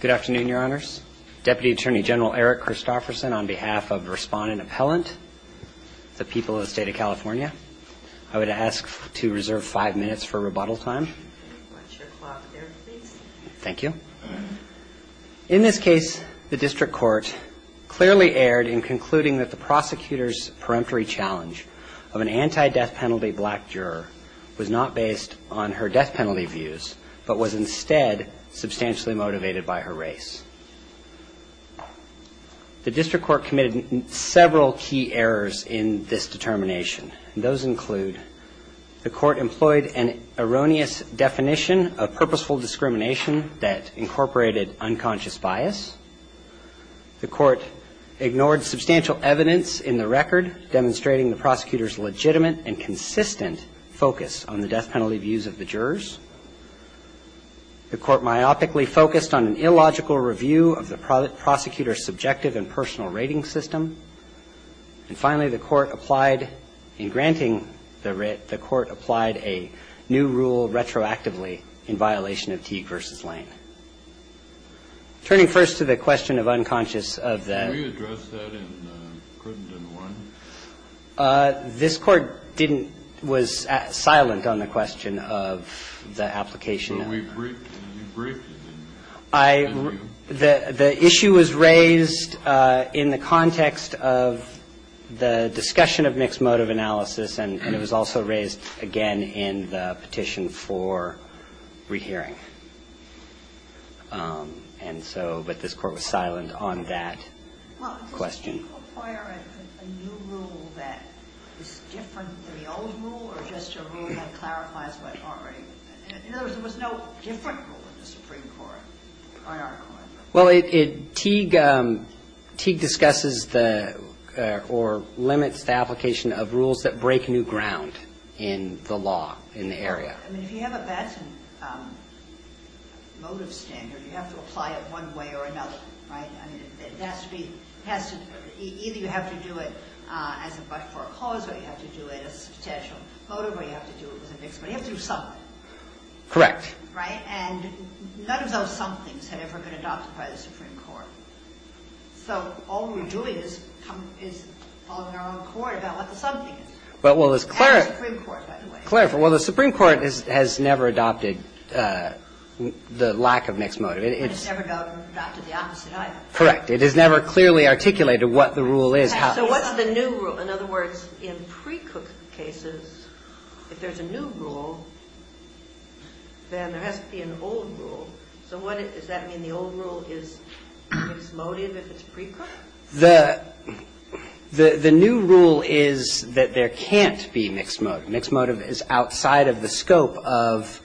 Good afternoon, Your Honors. Deputy Attorney General Eric Christofferson on behalf of Respondent Appellant, the people of the State of California, I would ask to reserve five minutes for rebuttal time. Thank you. In this case, the District Court clearly erred in concluding that the prosecutor's peremptory challenge of an anti-death penalty black juror was not based on her death penalty, but was instead substantially motivated by her race. The District Court committed several key errors in this determination, and those include the Court employed an erroneous definition of purposeful discrimination that incorporated unconscious bias. The Court ignored substantial evidence in the record demonstrating the prosecutor's legitimate and consistent focus on the death penalty views of the jurors. The Court myopically focused on an illogical review of the prosecutor's subjective and personal rating system. And finally, the Court applied, in granting the writ, the Court applied a new rule retroactively in violation of Teague v. Lane. Turning first to the question of unconscious of the — Can we address that in Crittenden 1? This Court didn't — was silent on the question of the application. The issue was raised in the context of the discussion of mixed-motive analysis, and it was also raised, again, in the petition for rehearing. And so — but this Court was silent on that question. Did Teague require a new rule that is different than the old rule, or just a rule that clarifies what already — in other words, there was no different rule in the Supreme Court, on our part? Well, it — Teague — Teague discusses the — or limits the application of rules that break new ground in the law, in the area. I mean, if you have a bad motive standard, you have to apply it one way or another, right? I mean, it has to be — it has to — either you have to do it as a — for a cause, or you have to do it as a potential motive, or you have to do it as a mixed motive. You have to do something. Correct. Right? And none of those somethings have ever been adopted by the Supreme Court. So all we're doing is coming — is following our own court about what the something is. But, well, as Clara — That's the Supreme Court, by the way. Clarify. Well, the Supreme Court has never adopted the lack of mixed motive. It's — It has never adopted the opposite item. Correct. It has never clearly articulated what the rule is, how — So what's the new rule? In other words, in precook cases, if there's a new rule, then there has to be an old rule. So what — does that mean the old rule is mixed motive if it's precooked? The — the new rule is that there can't be mixed motive. Mixed motive is outside of the scope of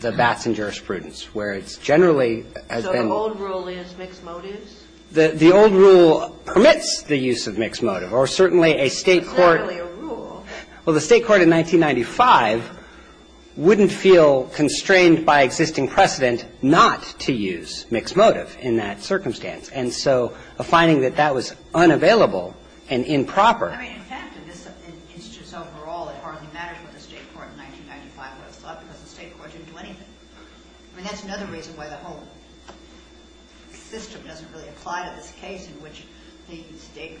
the Batson jurisprudence, where it's generally — So the old rule is mixed motives? The old rule permits the use of mixed motive, or certainly a State court — It's not really a rule. Well, the State court in 1995 wouldn't feel constrained by existing precedent not to use mixed motive in that circumstance. And so a finding that that was unavailable and improper — I mean, in fact, in this instance overall, it hardly matters what the State court in 1995 would have thought because the State court didn't do anything. I mean, that's another reason why the whole system doesn't really apply to this case in which the State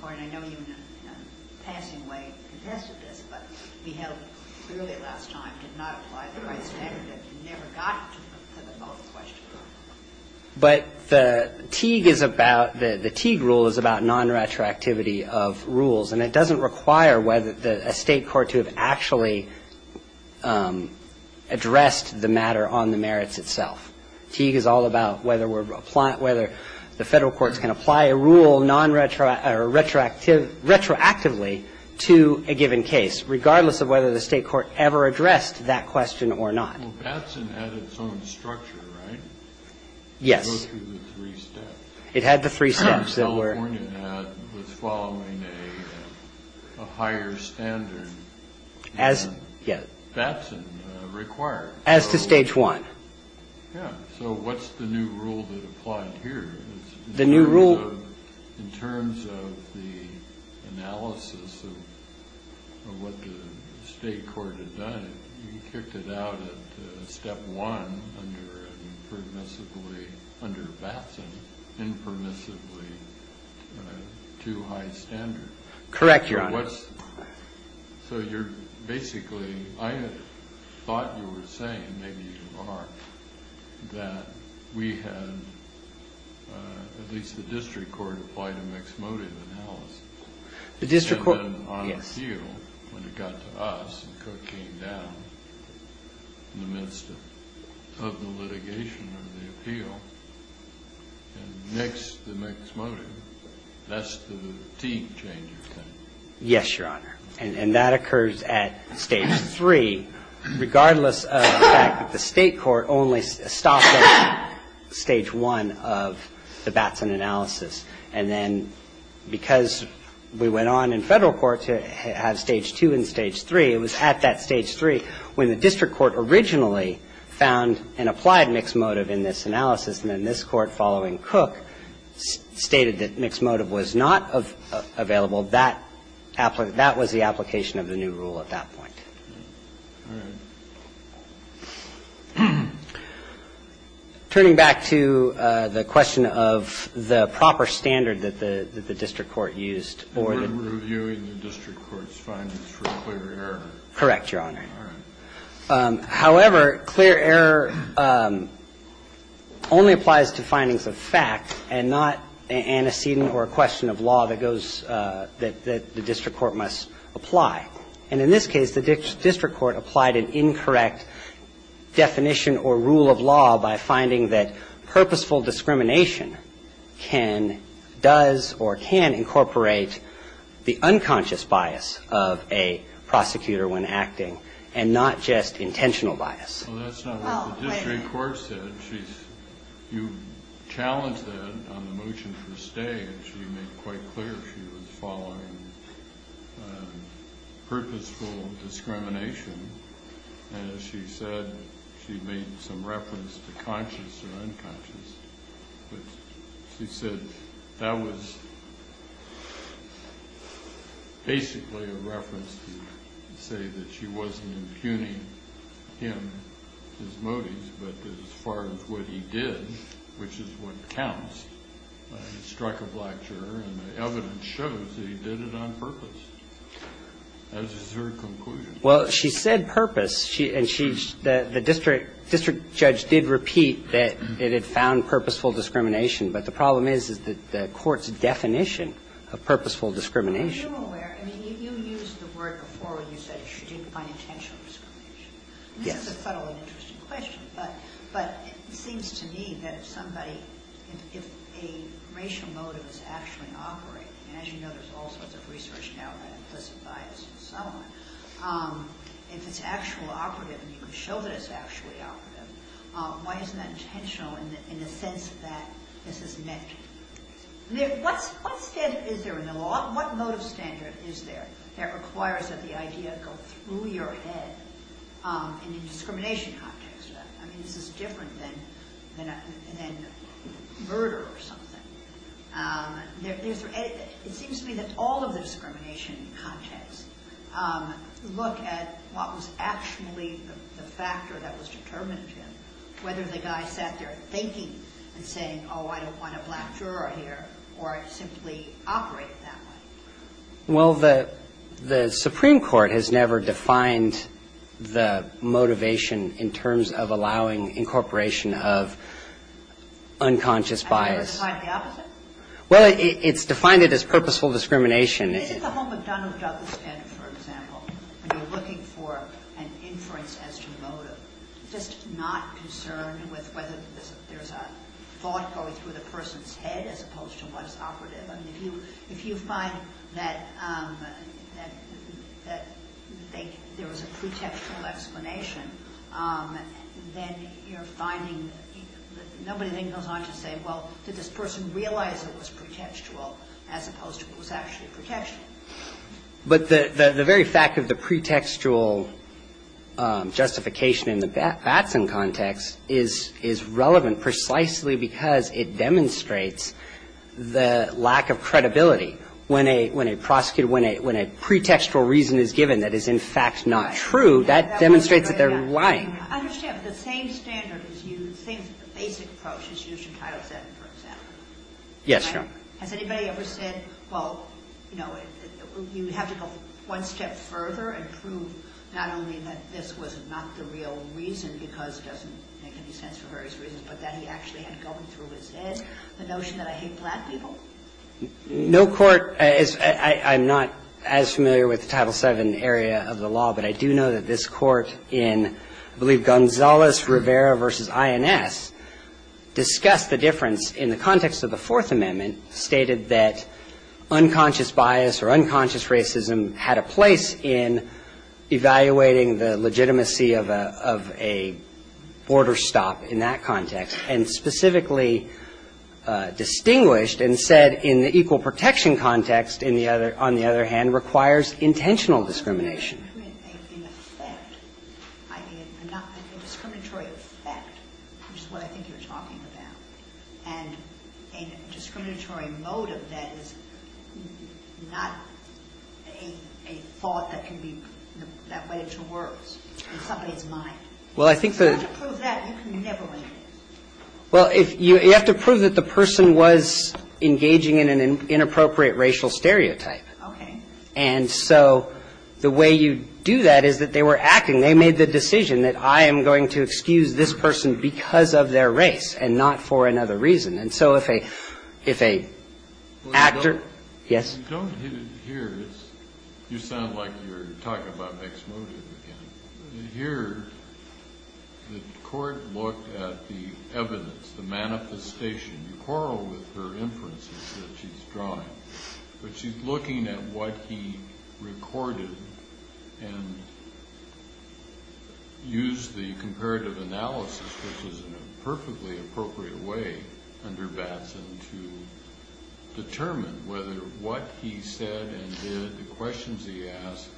court — and I know you in a passing way contested this, but we held clearly last time did not apply the right standard and never got to the whole question. But the Teague is about — the Teague rule is about nonretroactivity of rules. And it doesn't require whether a State court to have actually addressed the matter on the merits itself. Teague is all about whether the Federal courts can apply a rule retroactively to a given case, regardless of whether the State court ever addressed that question or not. Well, Batson had its own structure, right? Yes. It goes through the three steps. It had the three steps that were — California was following a higher standard than Batson required. As to Stage 1. Yeah. So what's the new rule that applied here? The new rule — In terms of the analysis of what the State court had done, you kicked it out at Step 1 under a permissibly — under Batson, impermissibly too high standard. Correct, Your Honor. So you're basically — I thought you were saying, maybe you are, that we had — at least the district court applied a mixed motive analysis. The district court — And then on appeal, when it got to us, it came down in the midst of the litigation of the appeal. And next, the mixed motive. That's the team change of things. Yes, Your Honor. And that occurs at Stage 3, regardless of the fact that the State court only stopped at Stage 1 of the Batson analysis. And then because we went on in Federal court to have Stage 2 and Stage 3, it was at that point that the district court applied a mixed motive analysis. And then this Court, following Cook, stated that mixed motive was not available. That was the application of the new rule at that point. All right. Turning back to the question of the proper standard that the district court used or the — only applies to findings of fact and not antecedent or a question of law that goes — that the district court must apply. And in this case, the district court applied an incorrect definition or rule of law by finding that purposeful discrimination can — does or can incorporate the unconscious bias of a prosecutor when acting and not just intentional bias. Well, that's not what the district court said. She's — you challenged that on the motion for stay. And she made quite clear she was following purposeful discrimination. And as she said, she made some reference to conscious or unconscious. But she said that was basically a reference to say that she wasn't impugning him as motives. But as far as what he did, which is what counts, he struck a black juror. And the evidence shows that he did it on purpose. That is her conclusion. Well, she said purpose. And she — the district judge did repeat that it had found purposeful discrimination. But the problem is, is that the court's definition of purposeful discrimination. But you're aware — I mean, you used the word before where you said she didn't find intentional discrimination. Yes. And this is a fundamentally interesting question. But it seems to me that if somebody — if a racial motive is actually operating — and as you know, there's all sorts of research now on implicit bias and so on — if it's actually operative and you can show that it's actually operative, why isn't that intentional in the sense that this is meant to be? I mean, what standard is there in the law? What motive standard is there that requires that the idea go through your head in a discrimination context? I mean, is this different than murder or something? It seems to me that all of the discrimination contexts look at what was actually the factor that was determinative, whether the guy sat there thinking and saying, oh, I don't want a black juror here, or simply operated that way. Well, the Supreme Court has never defined the motivation in terms of allowing incorporation of unconscious bias. Never defined the opposite? Well, it's defined it as purposeful discrimination. Isn't the whole McDonnell-Douglas standard, for example, when you're looking for an inference as to motive, just not concerned with whether there's a thought going through the person's head as opposed to what is operative? I mean, if you find that there was a pretextual explanation, then you're finding that nobody then goes on to say, well, did this person realize it was pretextual, as opposed to what was actually pretextual? But the very fact of the pretextual justification in the Batson context is relevant precisely because it demonstrates the lack of credibility. When a pretextual reason is given that is, in fact, not true, that demonstrates that they're lying. I understand, but the same standard is used, the same basic approach is used in Title VII, for example. Yes, Your Honor. Has anybody ever said, well, you know, you have to go one step further and prove not only that this was not the real reason, because it doesn't make any sense for various reasons, but that he actually had it going through his head, the notion that I hate black people? No court is as familiar with the Title VII area of the law, but I do know that this court in, I believe, Gonzales-Rivera v. INS, discussed the difference in the context of the Fourth Amendment, stated that unconscious bias or unconscious racism had a place in evaluating the legitimacy of a border stop in that context, and specifically distinguished and said in the equal protection context, on the other hand, requires intentional discrimination. In effect, I mean, a discriminatory effect, which is what I think you're talking about, and a discriminatory motive that is not a thought that can be, that went into words in somebody's mind. Well, I think that... If you have to prove that, you can never win. Well, you have to prove that the person was engaging in an inappropriate racial stereotype. Okay. And so the way you do that is that they were acting. They made the decision that I am going to excuse this person because of their race and not for another reason. And so if a actor... Yes? You don't hit it here. You sound like you're talking about mixed motive again. Here, the court looked at the evidence, the manifestation. You quarrel with her inferences that she's drawing. But she's looking at what he recorded and used the comparative analysis, which is in a perfectly appropriate way under Batson, to determine whether what he said and did, the questions he asked,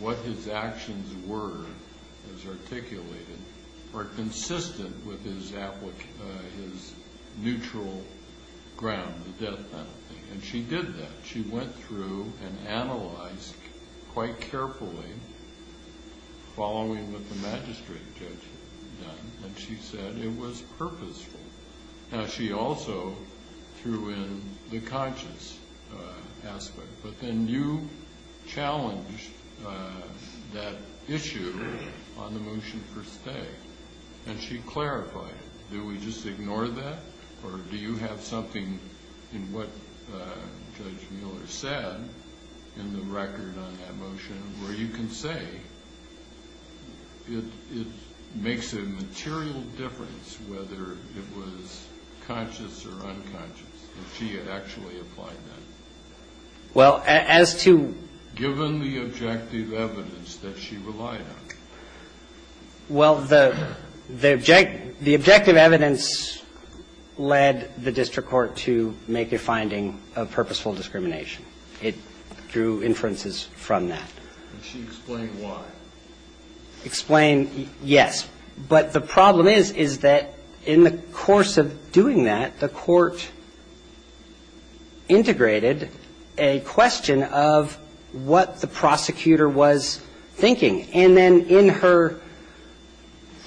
what his actions were, as articulated, are consistent with his neutral ground, the death penalty. And she did that. She went through and analyzed quite carefully following what the magistrate judge had done. And she said it was purposeful. Now, she also threw in the conscious aspect. But then you challenged that issue on the motion for stay. And she clarified it. Do we just ignore that? Or do you have something in what Judge Mueller said in the record on that motion where you can say it makes a material difference whether it was conscious or unconscious, if she had actually applied that? Well, as to... Given the objective evidence that she relied on. Well, the objective evidence led the district court to make a finding of purposeful discrimination. It drew inferences from that. And she explained why. Explained, yes. But the problem is, is that in the course of doing that, the court integrated a question of what the prosecutor was thinking. And then in her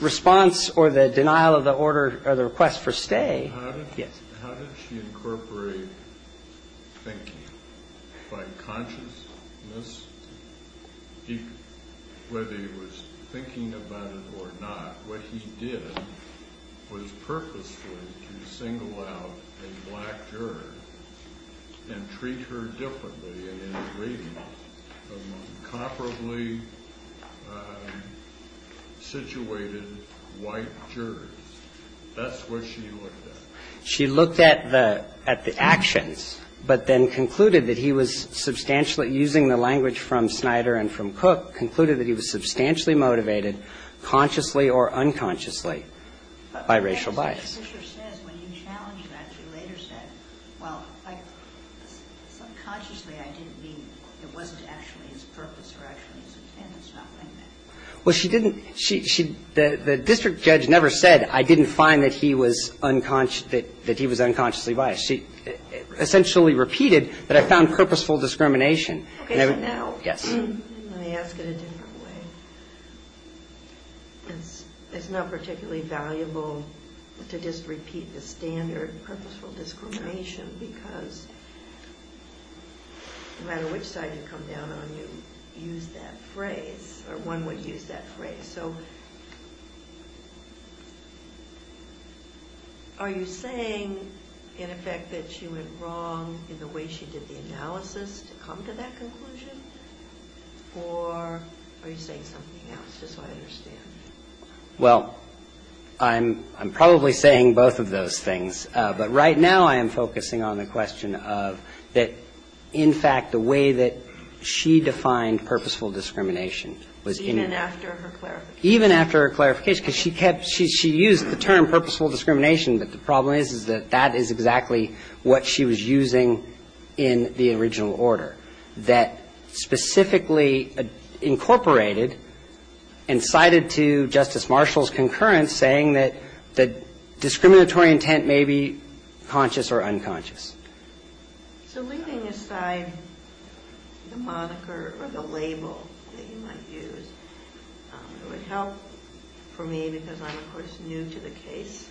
response or the denial of the order or the request for stay... Yes. How did she incorporate thinking? By consciousness? Whether he was thinking about it or not, what he did was purposefully to single out a black juror and treat her differently, and integrate her among comparably situated white jurors. That's what she looked at. She looked at the actions, but then concluded that he was substantially, using the language from Snyder and from Cook, concluded that he was substantially motivated, consciously or unconsciously, by racial bias. And as Fisher says, when you challenged that, she later said, subconsciously I didn't mean it wasn't actually his purpose or actually his intent. Well, she didn't... The district judge never said, I didn't find that he was unconsciously biased. She essentially repeated that I found purposeful discrimination. Okay, so now... Yes. Let me ask it a different way. It's not particularly valuable to just repeat the standard purposeful discrimination because no matter which side you come down on, you use that phrase, or one would use that phrase. Are you saying, in effect, that she went wrong in the way she did the analysis to come to that conclusion, or are you saying something else? Just so I understand. Well, I'm probably saying both of those things, but right now I am focusing on the question of that, in fact, the way that she defined purposeful discrimination was in... Even after her clarification. Even after her clarification, because she used the term purposeful discrimination, but the problem is that that is exactly what she was using in the original order that specifically incorporated and cited to Justice Marshall's concurrence saying that the discriminatory intent may be conscious or unconscious. So leaving aside the moniker or the label that you might use, it would help for me, because I'm, of course, new to the case,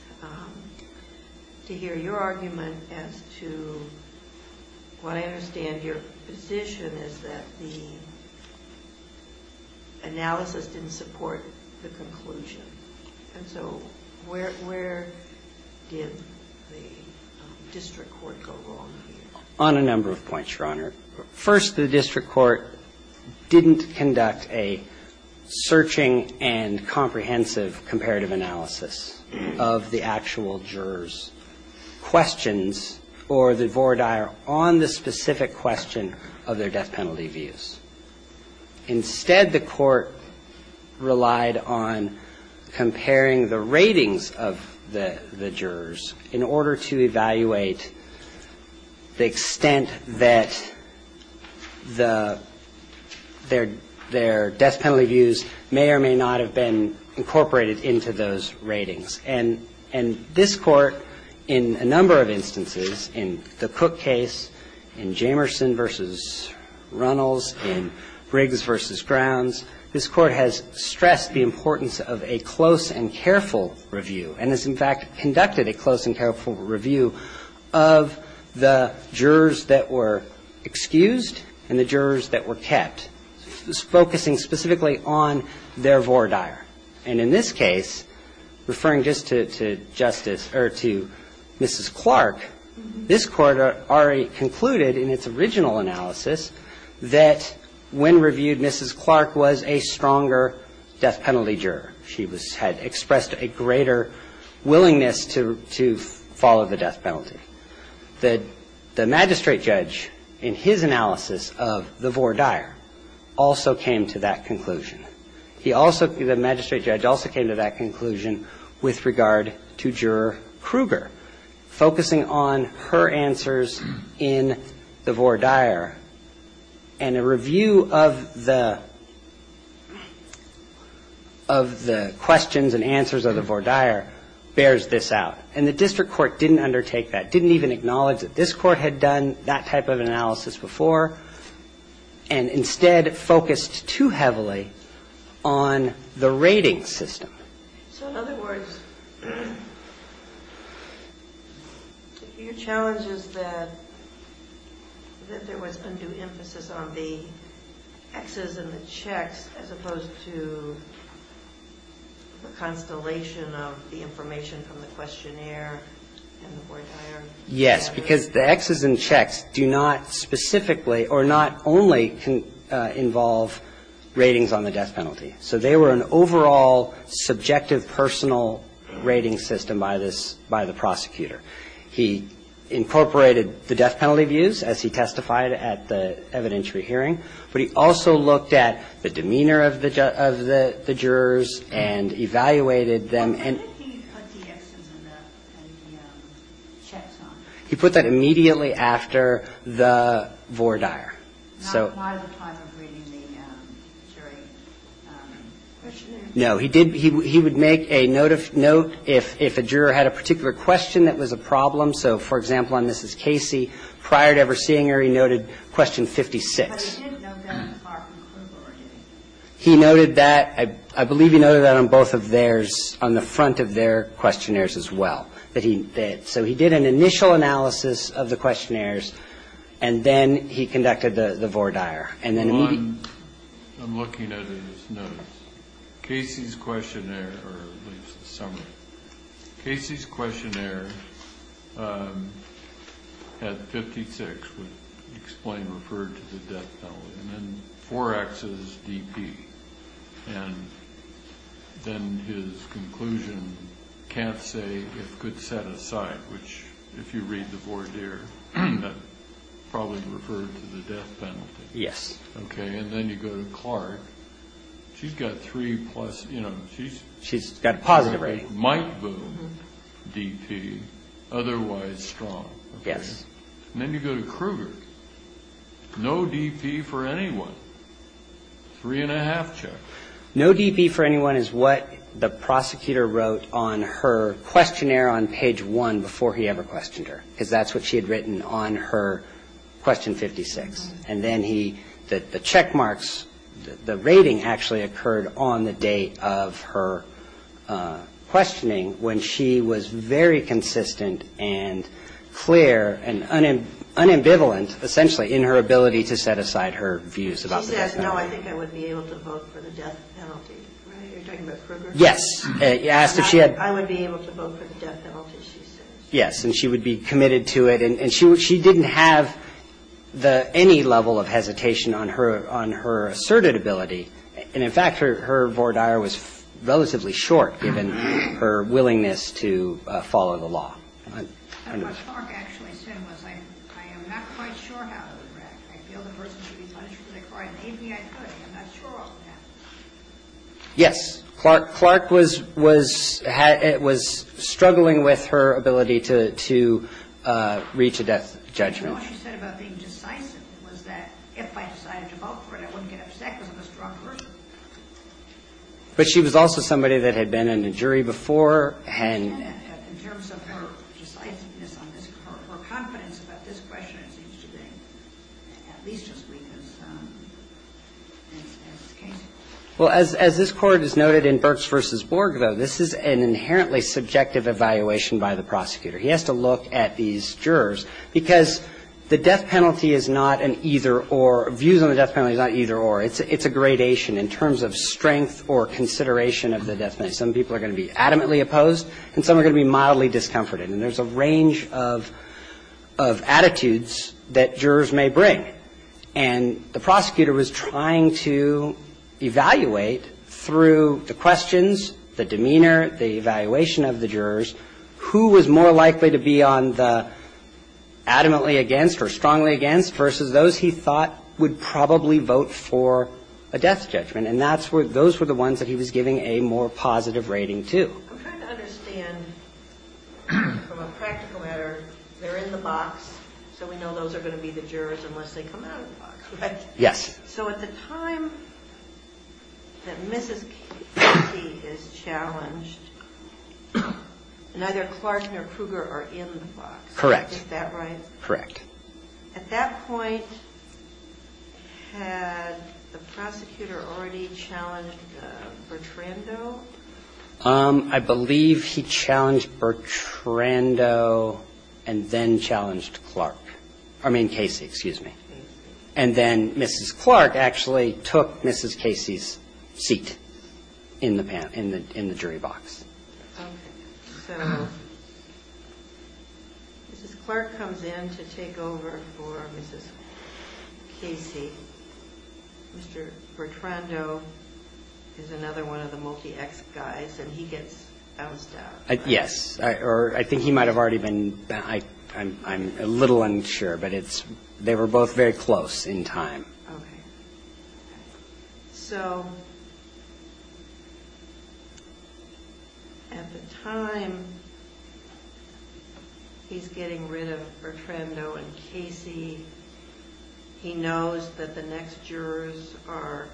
to hear your argument as to what I understand your position is that the analysis didn't support the conclusion. And so where did the district court go wrong here? On a number of points, Your Honor. First, the district court didn't conduct a searching and comprehensive comparative analysis of the actual jurors' questions or the voir dire on the specific question of their death penalty views. Instead, the court relied on comparing the ratings of the jurors in order to evaluate the extent that their death penalty views may or may not have been incorporated into those ratings. And this court, in a number of instances, in the Cook case, in Jamerson v. Runnels, in Briggs v. Grounds, this court has stressed the importance of a close and careful review, and has, in fact, conducted a close and careful review of the jurors that were excused and the jurors that were kept, focusing specifically on their voir dire. And in this case, referring just to Justice, or to Mrs. Clark, this court already concluded in its original analysis that when reviewed, Mrs. Clark was a stronger death penalty juror. She had expressed a greater willingness to follow the death penalty. The magistrate judge, in his analysis of the voir dire, also came to that conclusion. The magistrate judge also came to that conclusion with regard to Juror Kruger, focusing on her answers in the voir dire and a review of the questions and answers of the voir dire bears this out. And the district court didn't undertake that, didn't even acknowledge that this court had done that type of analysis before, and instead focused too heavily on the rating system. So, in other words, your challenge is that there was undue emphasis on the X's and the checks as opposed to the constellation of the information from the questionnaire and the voir dire? Yes, because the X's and checks do not specifically, or not only involve ratings on the death penalty. So they were an overall subjective personal rating system by the prosecutor. He incorporated the death penalty views as he testified at the evidentiary hearing, but he also looked at the demeanor of the jurors and evaluated them. When did he put the X's and the checks on? He put that immediately after the voir dire. Not at the time of reading the jury questionnaire? No, he would make a note if a juror had a particular question that was a problem. So, for example, on Mrs. Casey, prior to ever seeing her, he noted question 56. But he didn't note that on Clark and Kruger, did he? He noted that. I believe he noted that on both of theirs, on the front of their questionnaires as well. So he did an initial analysis of the questionnaires, and then he conducted the voir dire. I'm looking at it as notes. Casey's questionnaire, or at least the summary. Casey's questionnaire had 56, would explain, referred to the death penalty, and then 4X is DP. And then his conclusion, can't say if good set aside, which, if you read the voir dire, that probably referred to the death penalty. Yes. Okay, and then you go to Clark. She's got three plus, you know. She's got a positive rating. Might vote DP, otherwise strong. Yes. And then you go to Kruger. No DP for anyone. Three and a half check. No DP for anyone is what the prosecutor wrote on her questionnaire on page one before he ever questioned her. Because that's what she had written on her question 56. And then he, the check marks, the rating actually occurred on the date of her questioning when she was very consistent and clear and unambivalent, essentially, in her ability to set aside her views about the death penalty. She says, no, I think I would be able to vote for the death penalty. You're talking about Kruger? Yes. I would be able to vote for the death penalty, she says. Yes, and she would be committed to it. And she didn't have any level of hesitation on her asserted ability. And, in fact, her voir dire was relatively short given her willingness to follow the law. And what Clark actually said was, I am not quite sure how it would react. I feel the person should be punished for their crime. Maybe I could. I'm not sure what would happen. Yes. Clark was struggling with her ability to reach a death judgment. And what she said about being decisive was that if I decided to vote for it, I wouldn't get upset because I'm a strong person. But she was also somebody that had been in a jury before. And in terms of her decisiveness on this court, her confidence about this question seems to be at least as weak as the case. Well, as this Court has noted in Burks v. Borg, though, this is an inherently subjective evaluation by the prosecutor. He has to look at these jurors. Because the death penalty is not an either-or. Views on the death penalty is not either-or. It's a gradation in terms of strength or consideration of the death penalty. Some people are going to be adamantly opposed and some are going to be mildly discomforted. And there's a range of attitudes that jurors may bring. And the prosecutor was trying to evaluate through the questions, the demeanor, the evaluation of the jurors, who was more likely to be on the adamantly against or strongly against versus those he thought would probably vote for a death judgment. And those were the ones that he was giving a more positive rating to. I'm trying to understand, from a practical matter, they're in the box, so we know those are going to be the jurors unless they come out of the box, right? Yes. So at the time that Mrs. Casey is challenged, neither Clark nor Kruger are in the box. Correct. Is that right? Correct. At that point, had the prosecutor already challenged Bertrando? I believe he challenged Bertrando and then challenged Clark. I mean Casey, excuse me. And then Mrs. Clark actually took Mrs. Casey's seat in the jury box. Okay. So Mrs. Clark comes in to take over for Mrs. Casey. Mr. Bertrando is another one of the multi-ex guys, and he gets bounced out. Yes. Or I think he might have already been. I'm a little unsure, but they were both very close in time. Okay. So at the time he's getting rid of Bertrando and Casey, he knows that the next jurors are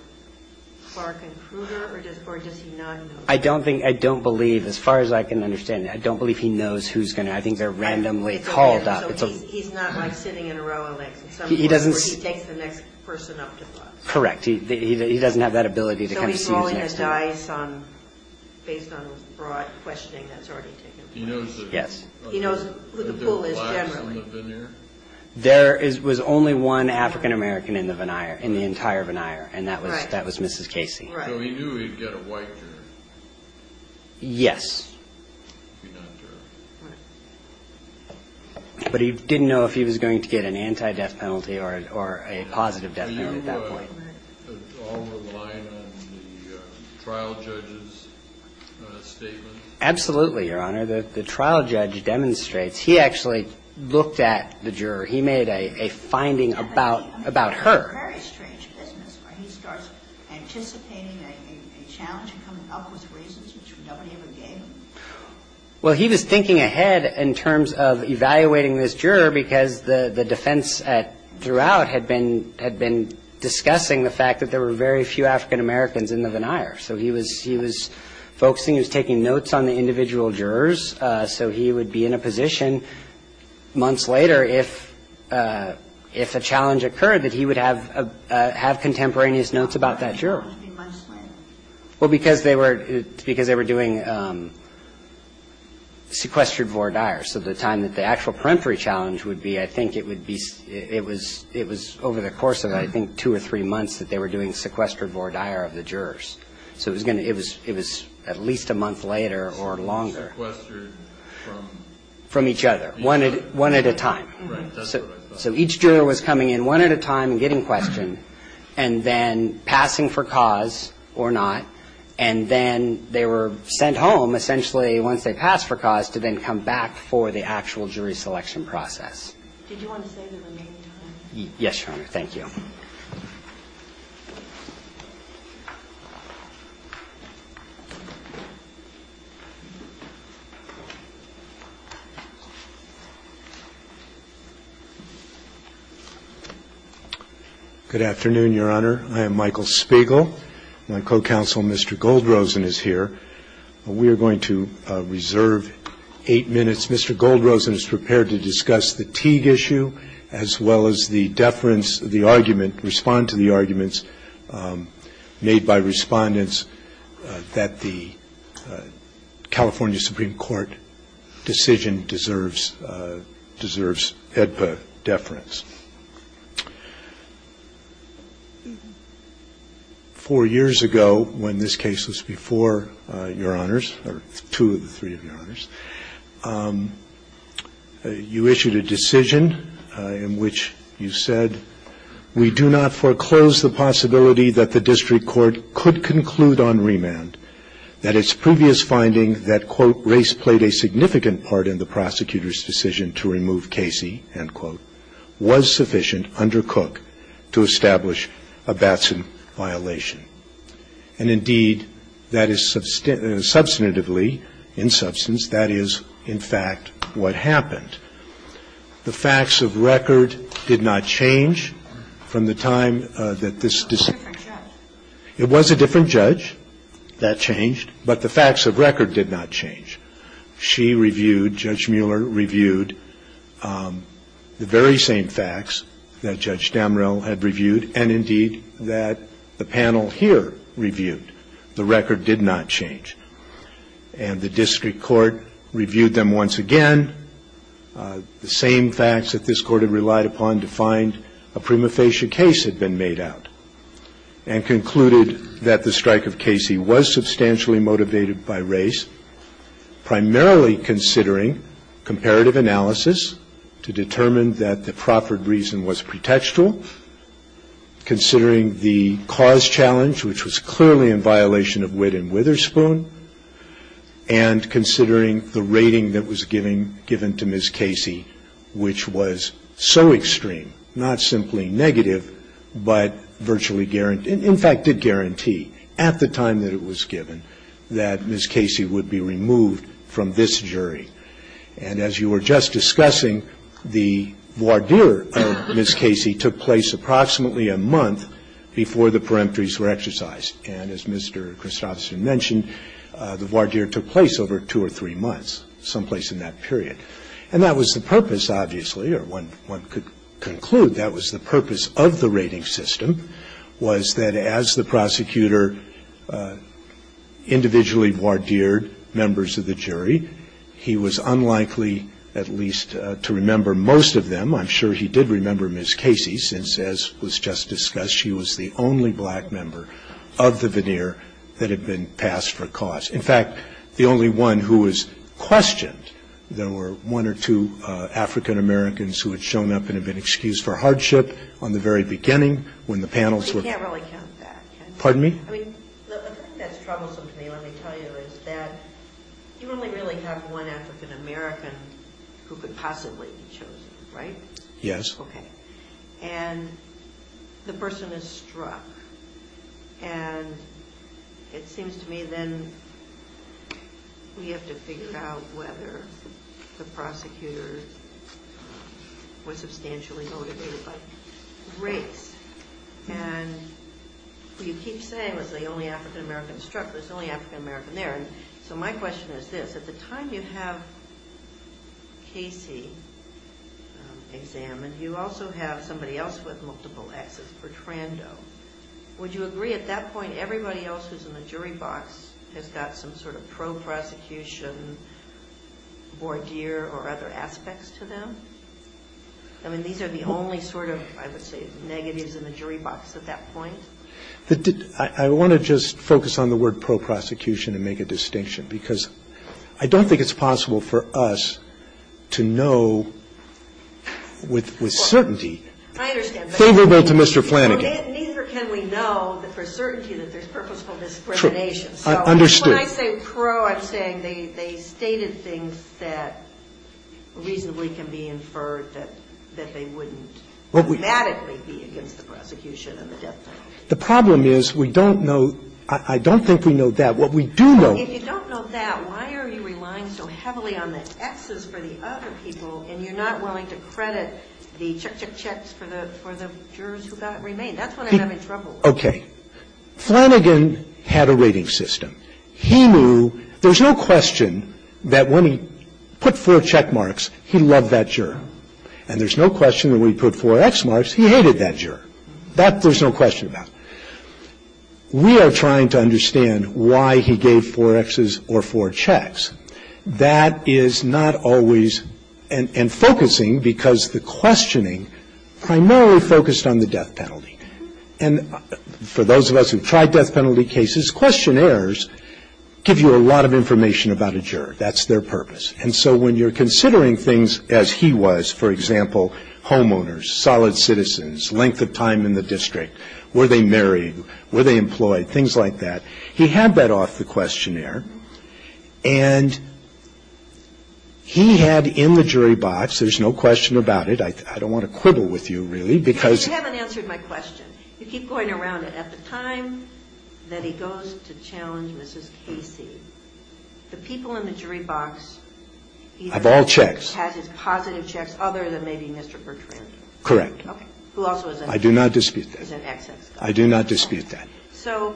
Clark and Kruger, or does he not know? I don't think, I don't believe, as far as I can understand, I don't believe he knows who's going to, I think they're randomly called out. So he's not like sitting in a row of legs at some point where he takes the next person up to bust. Correct. He doesn't have that ability to kind of see who's next. So he's rolling the dice based on broad questioning that's already taken place. Yes. He knows who the pool is generally. There was only one African-American in the entire veneer, and that was Mrs. Casey. So he knew he'd get a white juror. Yes. But he didn't know if he was going to get an anti-death penalty or a positive death penalty at that point. Were you all reliant on the trial judge's statement? Absolutely, Your Honor. The trial judge demonstrates. He actually looked at the juror. He made a finding about her. I mean, it's a very strange business where he starts anticipating a challenge and coming up with reasons which nobody ever gave him. Well, he was thinking ahead in terms of evaluating this juror because the defense throughout had been discussing the fact that there were very few African-Americans in the veneer. So he was focusing, he was taking notes on the individual jurors. So he would be in a position months later, if a challenge occurred, that he would have contemporaneous notes about that juror. Why would he be months later? Well, because they were doing sequestered voir dire. So the time that the actual peremptory challenge would be, I think it would be, it was over the course of, I think, two or three months that they were doing sequestered voir dire of the jurors. So it was at least a month later or longer. Sequestered from? From each other. One at a time. Right. That's what I thought. So each juror was coming in one at a time and getting questioned and then passing for cause or not, and then they were sent home essentially once they passed for cause to then come back for the actual jury selection process. Did you want to say the remaining time? Yes, Your Honor. Thank you. Good afternoon, Your Honor. I am Michael Spiegel. My co-counsel, Mr. Goldrosen, is here. We are going to reserve eight minutes. Mr. Goldrosen is prepared to discuss the Teague issue, as well as the deference, the argument, respond to the arguments made by respondents that the California Supreme Court decision deserves HEDPA deference. Four years ago, when this case was before Your Honors, or two of the three of Your Honors, you issued a decision in which you said, we do not foreclose the possibility that the district court could conclude on remand that its previous finding that, quote, race played a significant part in the prosecutor's decision to remove Casey, end quote, was sufficient under Cook to establish a Batson violation. And, indeed, that is substantively, in substance, that is, in fact, what happened. The facts of record did not change from the time that this decision. It was a different judge that changed, but the facts of record did not change. She reviewed, Judge Mueller reviewed, the very same facts that Judge Damrell had reviewed, and, indeed, that the panel here reviewed. The record did not change. And the district court reviewed them once again. The same facts that this court had relied upon to find a prima facie case had been made out and concluded that the strike of Casey was substantially motivated by race, primarily considering comparative analysis to determine that the proffered reason was pretextual, considering the cause challenge, which was clearly in violation of Witt and Witherspoon, and considering the rating that was given to Ms. Casey, which was so extreme, not simply negative, but virtually guaranteed, in fact, did guarantee at the time that it was given that Ms. Casey would be removed from this jury. And as you were just discussing, the voir dire of Ms. Casey took place approximately a month before the peremptories were exercised. And as Mr. Christopherson mentioned, the voir dire took place over two or three months, someplace in that period. And that was the purpose, obviously, or one could conclude that was the purpose of the rating system, was that as the prosecutor individually voir dired members of the jury, he was unlikely at least to remember most of them. I'm sure he did remember Ms. Casey, since, as was just discussed, she was the only black member of the voir dire that had been passed for cause. In fact, the only one who was questioned, there were one or two African Americans who had shown up and had been excused for hardship on the very beginning when the panels were ---- You can't really count that, can you? Scalia. Pardon me? Ginsburg. I mean, the thing that's troublesome to me, let me tell you, is that you only really have one African American who could possibly be chosen, right? Yes. Okay. And the person is struck. And it seems to me then we have to figure out whether the prosecutor was substantially motivated by race. And you keep saying it was the only African American struck, but it was the only African American there. And so my question is this. At the time you have Casey examined, you also have somebody else with multiple Xs, Bertrando. Would you agree at that point everybody else who's in the jury box has got some sort of pro-prosecution, voir dire, or other aspects to them? I mean, these are the only sort of, I would say, negatives in the jury box at that point. But I want to just focus on the word pro-prosecution and make a distinction, because I don't think it's possible for us to know with certainty favorable to Mr. Flanagan. Neither can we know that for certainty that there's purposeful discrimination. So when I say pro, I'm saying they stated things that reasonably can be inferred that they wouldn't dramatically be against the prosecution and the death penalty. The problem is we don't know. I don't think we know that. What we do know. If you don't know that, why are you relying so heavily on the Xs for the other people and you're not willing to credit the check, check, checks for the jurors who got remanded? That's what I'm having trouble with. Okay. Flanagan had a rating system. He knew there's no question that when he put four check marks, he loved that juror. And there's no question that when he put four X marks, he hated that juror. That there's no question about. We are trying to understand why he gave four Xs or four checks. That is not always and focusing because the questioning primarily focused on the death penalty. And for those of us who've tried death penalty cases, questionnaires give you a lot of information about a juror. That's their purpose. And so when you're considering things as he was, for example, homeowners, solid citizens, length of time in the district, were they married, were they employed, things like that. He had that off the questionnaire. And he had in the jury box, there's no question about it. I don't want to quibble with you, really, because. You haven't answered my question. You keep going around it. I have two questions. One, I'm not going to ask you to answer them all. I'm going to ask you to answer them all. The first one is, in the time that he goes to challenge Mrs. Casey, the people in the jury box either has his positive checks other than maybe Mr. Bertrand. Correct. Okay. Who also is an XX. I do not dispute that. I do not dispute that.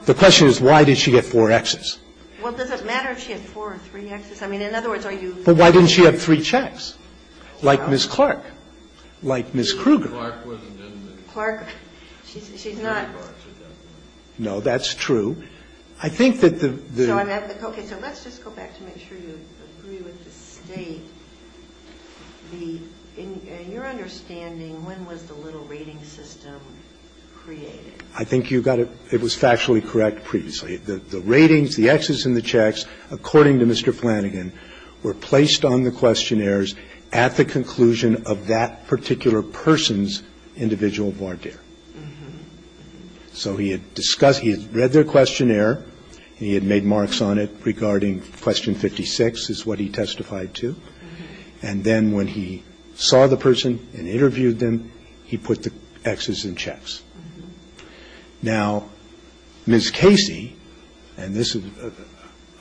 The question is, why did she get four Xs? Well, does it matter if she had four or three Xs? I mean, in other words, are you. But why didn't she have three checks? Like Ms. Clark. Like Ms. Kruger. Clark wasn't in the. Clark. She's not. No, that's true. I think that the. Okay. So let's just go back to make sure you agree with the State. In your understanding, when was the little rating system created? I think you got it. It was factually correct previously. The ratings, the Xs and the checks, according to Mr. Flanagan, were placed on the questionnaires at the conclusion of that particular person's individual voir dire. So he had discussed, he had read their questionnaire, and he had made marks on it regarding question 56 is what he testified to. And then when he saw the person and interviewed them, he put the Xs and checks. Now, Ms. Casey, and this is,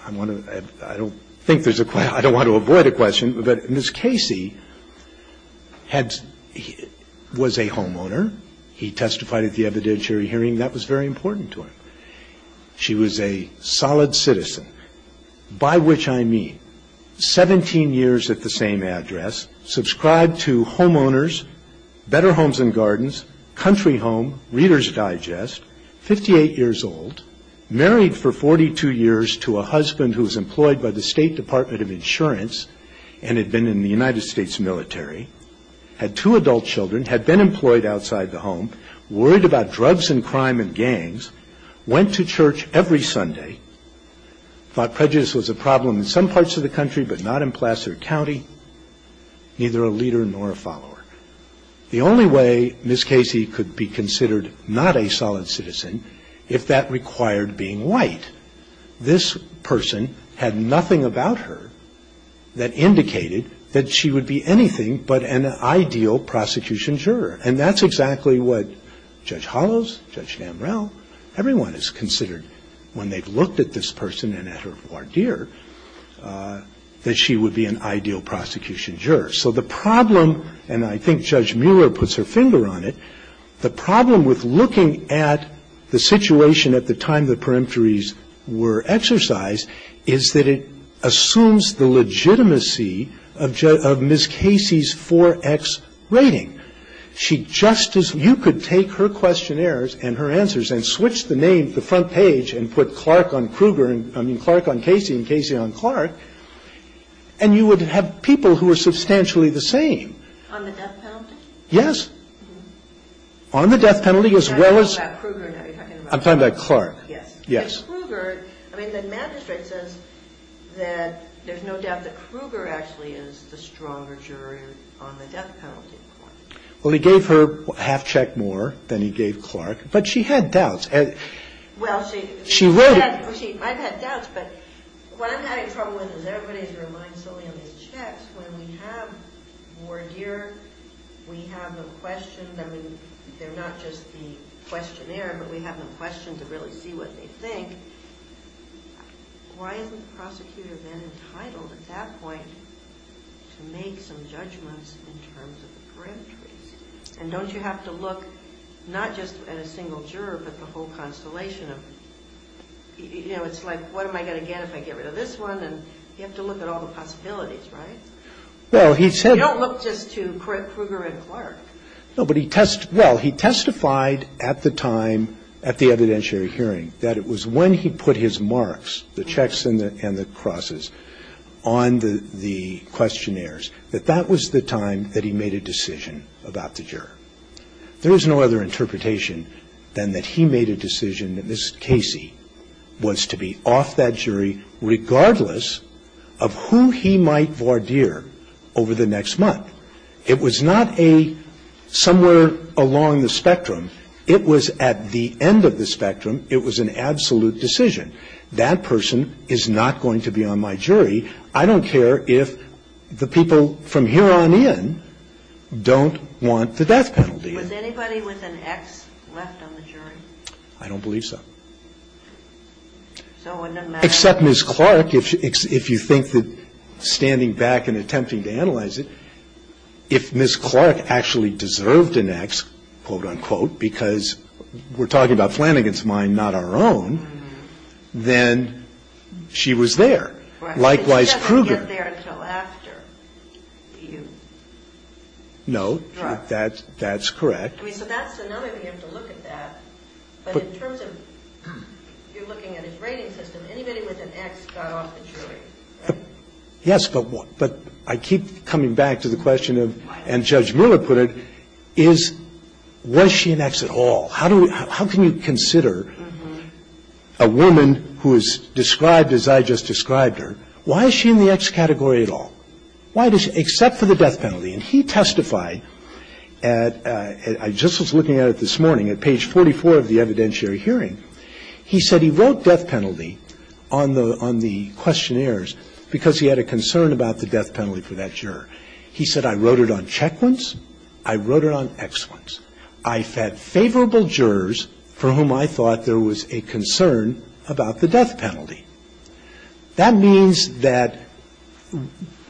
I want to, I don't think there's a, I don't want to avoid a question, but Ms. Casey had, was a homeowner. He testified at the evidentiary hearing. That was very important to him. She was a solid citizen, by which I mean 17 years at the same address, subscribed to Homeowners, Better Homes and Gardens, Country Home, Reader's Digest, 58 years old, married for 42 years to a husband who was employed by the State Department of Insurance and had been in the United States military, had two adult children, had been employed outside the home, worried about drugs and crime and gangs, went to church every Sunday, thought prejudice was a problem in some parts of the country but not in Placer County, neither a leader nor a follower. The only way Ms. Casey could be considered not a solid citizen, if that required being white, this person had nothing about her that indicated that she would be anything but an ideal prosecution juror. And that's exactly what Judge Hollows, Judge Damrell, everyone has considered when they've looked at this person and at her voir dire, that she would be an ideal prosecution juror. So the problem, and I think Judge Mueller puts her finger on it, the problem with looking at the situation at the time the peremptories were exercised is that it assumes the legitimacy of Ms. Casey's 4X rating. She just as you could take her questionnaires and her answers and switch the name, the front page and put Clark on Kruger, I mean Clark on Casey and Casey on Clark, and you would have people who were substantially the same. On the death penalty? Yes. On the death penalty as well as. I'm talking about Kruger now. I'm talking about Clark. Yes. Yes. Kruger, I mean the magistrate says that there's no doubt that Kruger actually is the stronger juror on the death penalty. Well, he gave her half check more than he gave Clark, but she had doubts. Well, she. She wrote. I've had doubts, but what I'm having trouble with is everybody is relying solely on these checks. When we have voir dire, we have no questions. I mean, they're not just the questionnaire, but we have no question to really see what they think. Why hasn't the prosecutor been entitled at that point to make some judgments in terms of the peremptories? And don't you have to look not just at a single juror, but the whole constellation of, you know, it's like what am I going to get if I get rid of this one? And you have to look at all the possibilities, right? Well, he said. You don't look just to Kruger and Clark. No, but he testified at the time at the evidentiary hearing that it was when he put his marks, the checks and the crosses on the questionnaires, that that was the time that he made a decision about the juror. There is no other interpretation than that he made a decision, that Ms. Casey, was to be off that jury regardless of who he might voir dire over the next month. It was not a somewhere along the spectrum. It was at the end of the spectrum. It was an absolute decision. That person is not going to be on my jury. I don't care if the people from here on in don't want the death penalty. Was anybody with an X left on the jury? I don't believe so. So wouldn't it matter? Except Ms. Clark, if you think that standing back and attempting to analyze it, if Ms. Clark actually deserved an X, quote, unquote, because we're talking about and the jury had a plan against mine, not our own, then she was there. Likewise Kruger. Right. But she doesn't get there until after you. No. Right. That's correct. I mean, so that's another way you have to look at that. But in terms of you're looking at his rating system, anybody with an X got off the jury, right? So you have to consider a woman who is described as I just described her. Why is she in the X category at all? Why does she, except for the death penalty? And he testified at, I just was looking at it this morning, at page 44 of the evidentiary hearing. He said he wrote death penalty on the questionnaires because he had a concern about the death penalty for that juror. He said, I wrote it on check ones, I wrote it on X ones. I fed favorable jurors for whom I thought there was a concern about the death penalty. That means that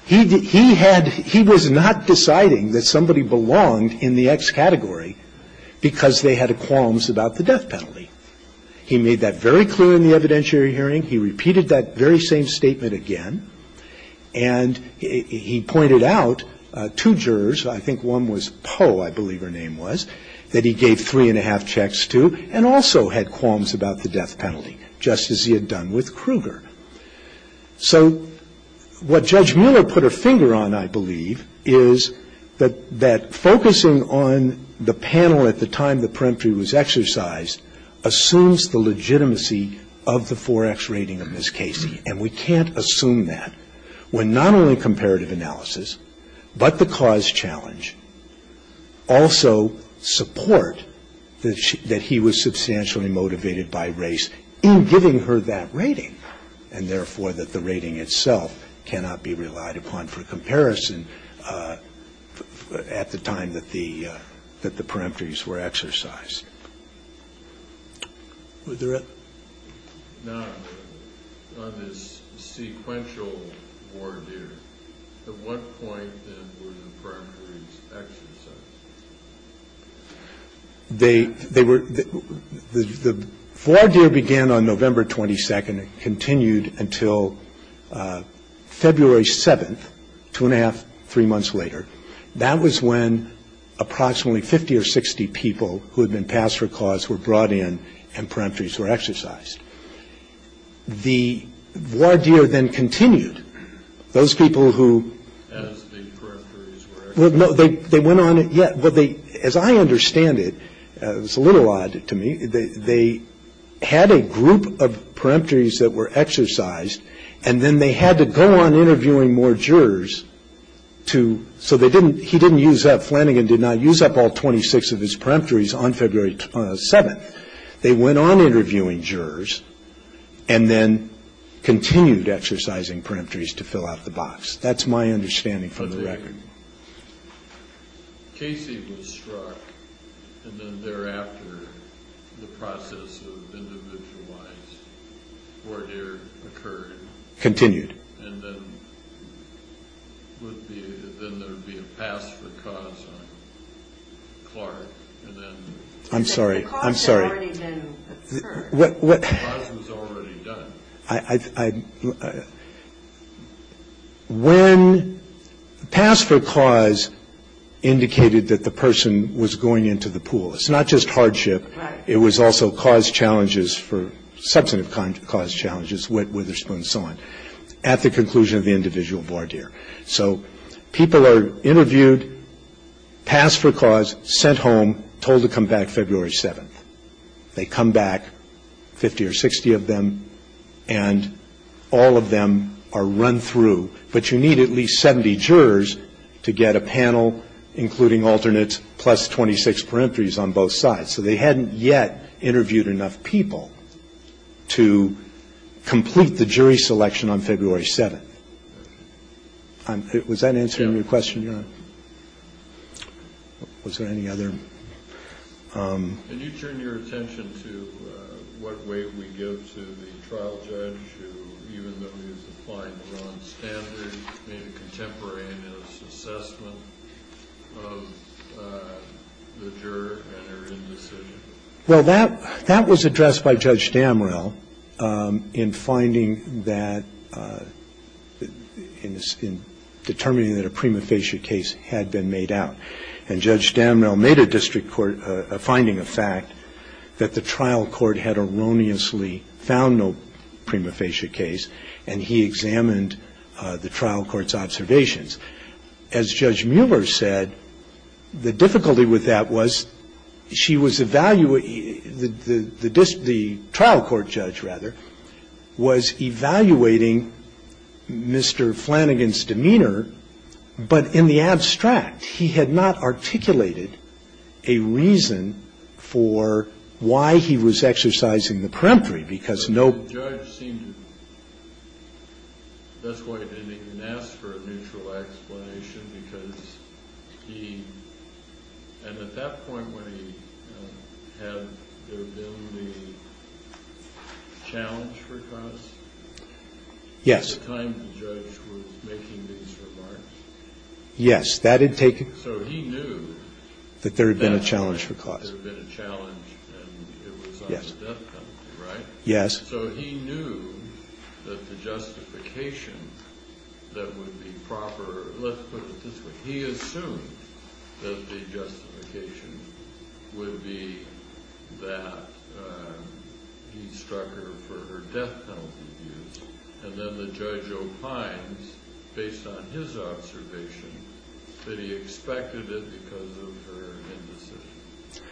he had, he was not deciding that somebody belonged in the X category because they had qualms about the death penalty. He made that very clear in the evidentiary hearing. He repeated that very same statement again. And he pointed out two jurors. I think one was Poe, I believe her name was, that he gave three and a half checks to and also had qualms about the death penalty, just as he had done with Kruger. So what Judge Miller put her finger on, I believe, is that focusing on the panel at the time the peremptory was exercised assumes the legitimacy of the 4X rating of Ms. Casey. And we can't assume that when not only comparative analysis, but the cause challenge also support that she, that he was substantially motivated by race in giving her that rating, and therefore that the rating itself cannot be relied upon for comparison at the time that the, that the peremptories were exercised. Were there other? No. On this sequential voir dire, at what point then were the peremptories exercised? They, they were, the voir dire began on November 22nd and continued until February 7th, two and a half, three months later. That was when approximately 50 or 60 people who had been passed for cause were brought in and peremptories were exercised. The voir dire then continued. Those people who. As the peremptories were exercised. Well, no, they, they went on, yeah, but they, as I understand it, it's a little odd to me, they, they had a group of peremptories that were exercised, and then they had to go on interviewing more jurors to, so they didn't, he didn't use up, they went on interviewing jurors and then continued exercising peremptories to fill out the box. That's my understanding from the record. Casey was struck and then thereafter the process of individualized voir dire occurred. Continued. And then would be, then there would be a pass for cause on Clark and then. I'm sorry. I'm sorry. Pass was already done. I, I, when pass for cause indicated that the person was going into the pool. It's not just hardship. Right. It was also cause challenges for substantive cause challenges, wet witherspoon and so on, at the conclusion of the individual voir dire. So people are interviewed, passed for cause, sent home, told to come back February 7th. They come back, 50 or 60 of them, and all of them are run through. But you need at least 70 jurors to get a panel including alternates plus 26 peremptories on both sides. So they hadn't yet interviewed enough people to complete the jury selection on February 7th. I'm, was that answering your question, Your Honor? Was there any other? Can you turn your attention to what weight we give to the trial judge who, even though he was applying the wrong standards, made a contemporary assessment of the juror and their indecision? Well, that, that was addressed by Judge Damrell in finding that, in determining that a prima facie case had been made out. And Judge Damrell made a district court finding a fact that the trial court had erroneously found no prima facie case, and he examined the trial court's observations. As Judge Mueller said, the difficulty with that was she was evaluating, the trial court judge, rather, was evaluating Mr. Flanagan's demeanor, but in the abstract. He had not articulated a reason for why he was exercising the peremptory, because no. Well, the judge seemed to, that's why he didn't even ask for a neutral explanation, because he, and at that point when he, had there been the challenge for cause? Yes. At the time the judge was making these remarks. Yes, that did take. So he knew. That there had been a challenge for cause. That there had been a challenge, and it was on the death penalty, right? Yes. So he knew that the justification that would be proper, let's put it this way, he assumed that the justification would be that he struck her for her death penalty views, and then the judge opines, based on his observation, that he expected it because of her indecision,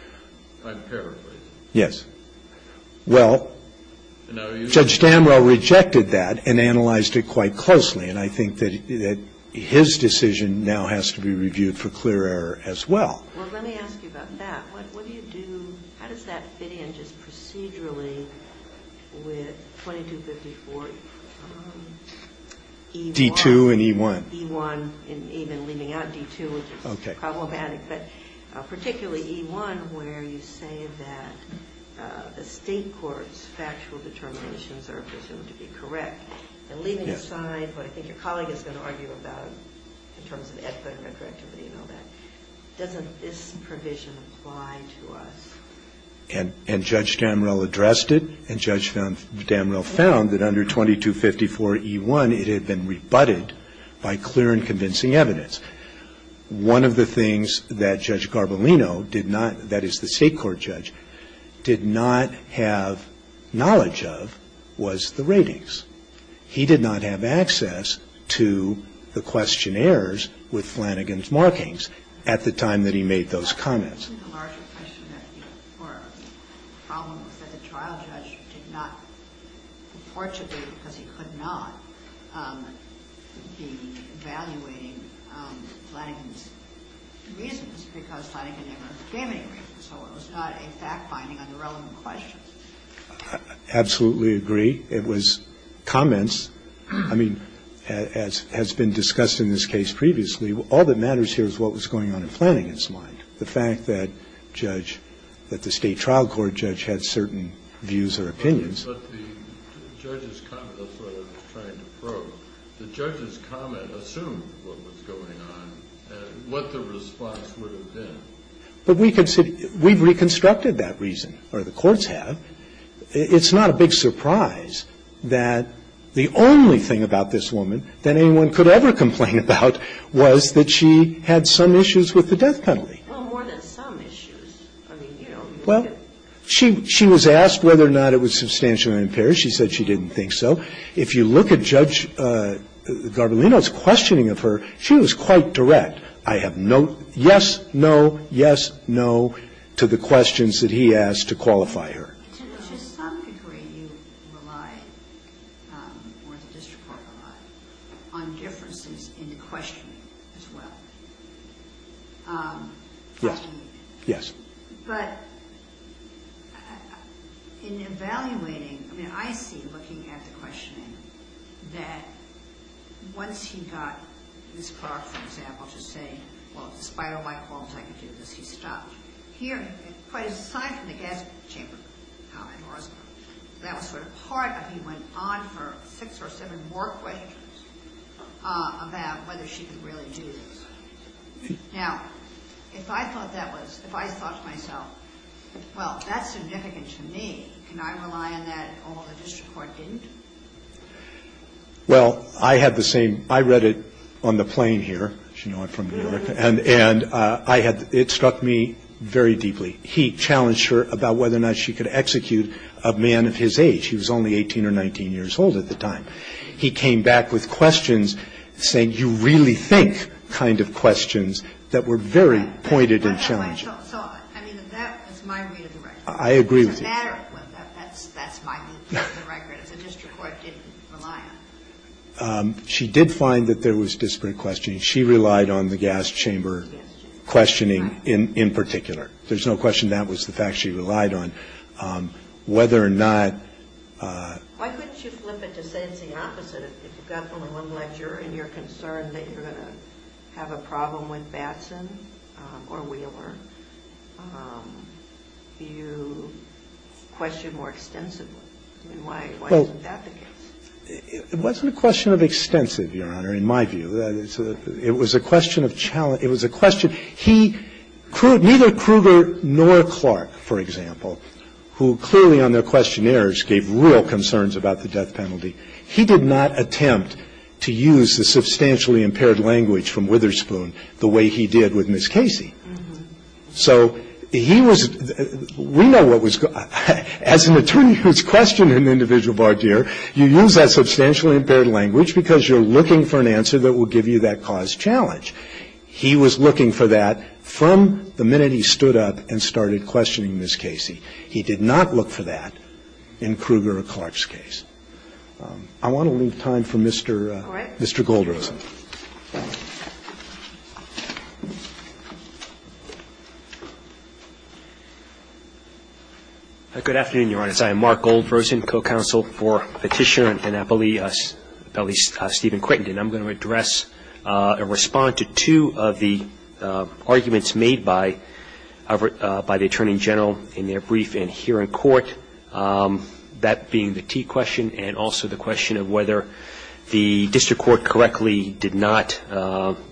empirically. Yes. Well, Judge Danwell rejected that and analyzed it quite closely. And I think that his decision now has to be reviewed for clear error as well. Well, let me ask you about that. What do you do, how does that fit in just procedurally with 2254? D-2 and E-1. E-1 and even leaving out D-2, which is problematic. Okay. But particularly E-1 where you say that the State court's factual determinations are presumed to be correct, and leaving aside what I think your colleague is going to argue about in terms of equity and retroactivity and all that, doesn't this provision apply to us? And Judge Damrell addressed it, and Judge Damrell found that under 2254 E-1 it had been rebutted by clear and convincing evidence. One of the things that Judge Garbolino did not, that is the State court judge, did not have knowledge of was the ratings. He did not have access to the questionnaires with Flanagan's markings at the time that he made those comments. Absolutely agree. It was comments. I mean, as has been discussed in this case previously, all that matters here is what was going on in Flanagan's mind. And I don't think that the State trial court judge had certain views or opinions. But the judge's comment, that's what I was trying to probe, the judge's comment assumed what was going on and what the response would have been. But we've reconstructed that reason, or the courts have. It's not a big surprise that the only thing about this woman that anyone could ever complain about was that she had some issues with the death penalty. Well, more than some issues. I mean, you know. Well, she was asked whether or not it was substantially impaired. She said she didn't think so. If you look at Judge Garbolino's questioning of her, she was quite direct. I have no yes, no, yes, no to the questions that he asked to qualify her. To some degree, you relied, or the district court relied, on differences in the questioning as well. Yes, yes. But in evaluating, I mean, I see, looking at the questioning, that once he got Ms. Clark, for example, to say, well, despite all my qualms, I can do this, he stopped. Here, quite aside from the gas chamber, that was sort of part of it. He went on for six or seven more questions about whether she could really do this. Now, if I thought that was, if I thought to myself, well, that's significant to me, can I rely on that, although the district court didn't? Well, I had the same. I read it on the plane here. You know I'm from New York. And I had, it struck me very deeply. He challenged her about whether or not she could execute a man of his age. He was only 18 or 19 years old at the time. He came back with questions saying, you really think, kind of questions that were very pointed and challenging. I mean, that was my read of the record. I agree with you. As a matter of fact, that's my read of the record. The district court didn't rely on it. She did find that there was disparate questioning. She relied on the gas chamber. The gas chamber. Questioning in particular. There's no question that was the fact she relied on. Whether or not. Why couldn't you flip it to say it's the opposite? If you've got the limelight and you're concerned that you're going to have a problem with Batson or Wheeler, do you question more extensively? I mean, why isn't that the case? Well, it wasn't a question of extensive, Your Honor, in my view. It was a question of challenge. It was a question. He, neither Kruger nor Clark, for example, who clearly on their questionnaires gave real concerns about the death penalty, he did not attempt to use the substantially impaired language from Witherspoon the way he did with Ms. Casey. So he was, we know what was, as an attorney who's questioning an individual in a case, you use that substantially impaired language because you're looking for an answer that will give you that cause challenge. He was looking for that from the minute he stood up and started questioning Ms. Casey. He did not look for that in Kruger or Clark's case. I want to leave time for Mr. Goldrosen. Good afternoon, Your Honor. I am Mark Goldrosen, co-counsel for Petitioner in Annapolis, at least Stephen Crittenden. I'm going to address and respond to two of the arguments made by the Attorney General in their brief in here in court, that being the T question and also the question of whether the district court correctly did not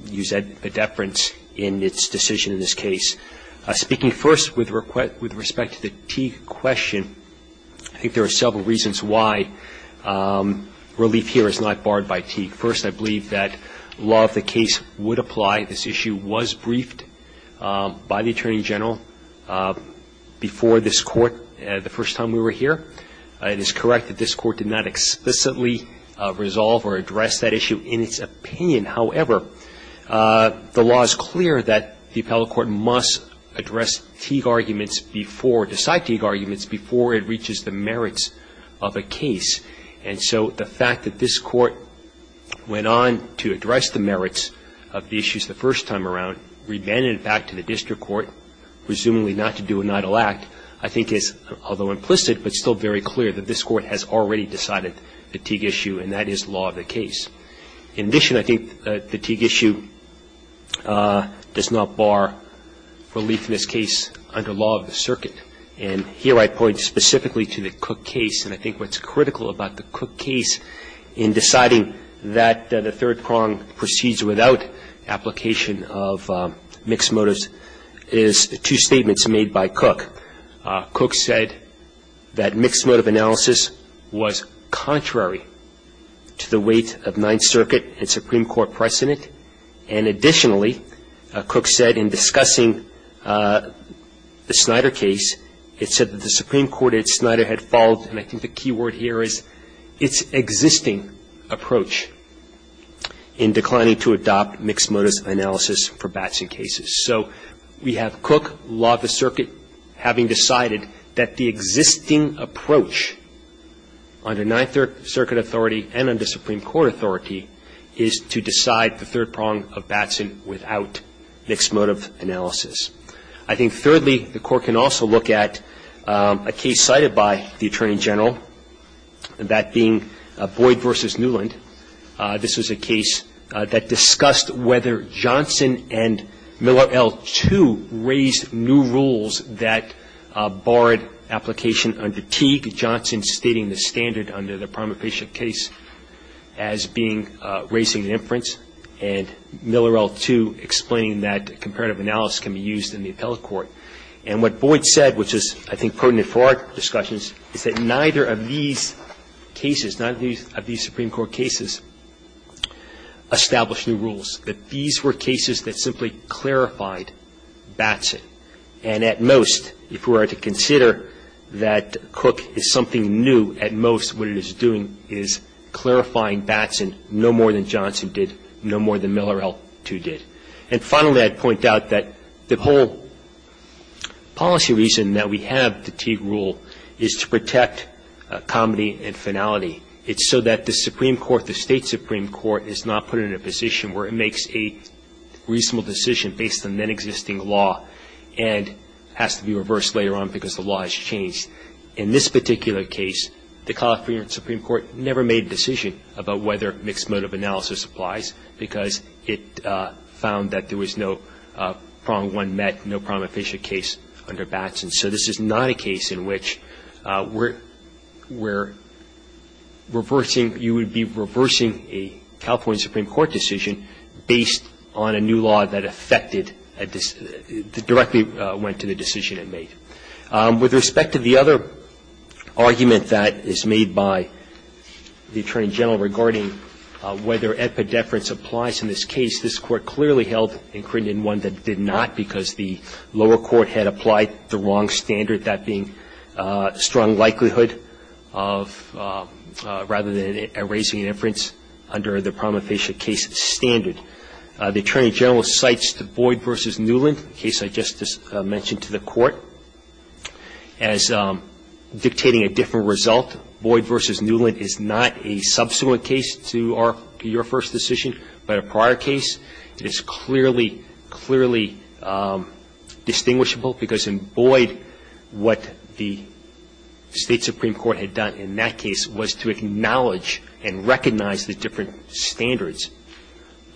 use a deference in its decision in this case. Speaking first with respect to the T question, I think there are several reasons why relief here is not barred by T. First, I believe that law of the case would apply. This issue was briefed by the Attorney General before this court, the first time we were here. It is correct that this court did not explicitly resolve or address that issue in its opinion. However, the law is clear that the appellate court must address Teague arguments before, decide Teague arguments before it reaches the merits of a case. And so the fact that this court went on to address the merits of the issues the first time around, remanded it back to the district court, presumably not to do an idle act, I think is, although implicit, but still very clear that this court has already decided the Teague issue, and that is law of the case. In addition, I think the Teague issue does not bar relief in this case under law of the circuit. And here I point specifically to the Cook case, and I think what's critical about the Cook case in deciding that the third prong proceeds without application of mixed motives is two statements made by Cook. Cook said that mixed motive analysis was contrary to the weight of Ninth Circuit and Supreme Court precedent. And additionally, Cook said in discussing the Snyder case, it said that the Supreme Court at Snyder had followed, and I think the key word here is, its existing approach in declining to adopt mixed motives analysis for Batson cases. So we have Cook, law of the circuit, having decided that the existing approach under Ninth Circuit authority and under Supreme Court authority is to decide the third prong of Batson without mixed motive analysis. I think, thirdly, the Court can also look at a case cited by the Attorney General, that being Boyd v. Newland. This was a case that discussed whether Johnson and Miller, L2, raised new rules that barred application under Teague, Johnson stating the standard under the prima facie case as being raising an inference, and Miller, L2 explaining that comparative analysis can be used in the appellate court. And what Boyd said, which is, I think, potent for our discussions, is that neither of these cases, neither of these Supreme Court cases established new rules. That these were cases that simply clarified Batson. And at most, if we were to consider that Cook is something new, at most what it is doing is clarifying Batson no more than Johnson did, no more than Miller, L2 did. And finally, I'd point out that the whole policy reason that we have the Teague rule is to protect comedy and finality. It's so that the Supreme Court, the State Supreme Court, is not put in a position where it makes a reasonable decision based on then-existing law and has to be reversed later on because the law has changed. In this particular case, the California Supreme Court never made a decision about whether mixed motive analysis applies because it found that there was no prong one met, no prong efficient case under Batson. So this is not a case in which we're reversing, you would be reversing a California Supreme Court decision based on a new law that affected, directly went to the decision it made. With respect to the other argument that is made by the Attorney General regarding whether epideference applies in this case, this Court clearly held in Crinton one that did not because the lower court had applied the wrong standard, that being strong likelihood of, rather than erasing inference under the prong efficient case standard. The Attorney General cites Boyd v. Newland, a case I just mentioned to the Court. As dictating a different result, Boyd v. Newland is not a subsequent case to your first decision, but a prior case. It is clearly, clearly distinguishable because in Boyd, what the State Supreme Court had done in that case was to acknowledge and recognize the different standards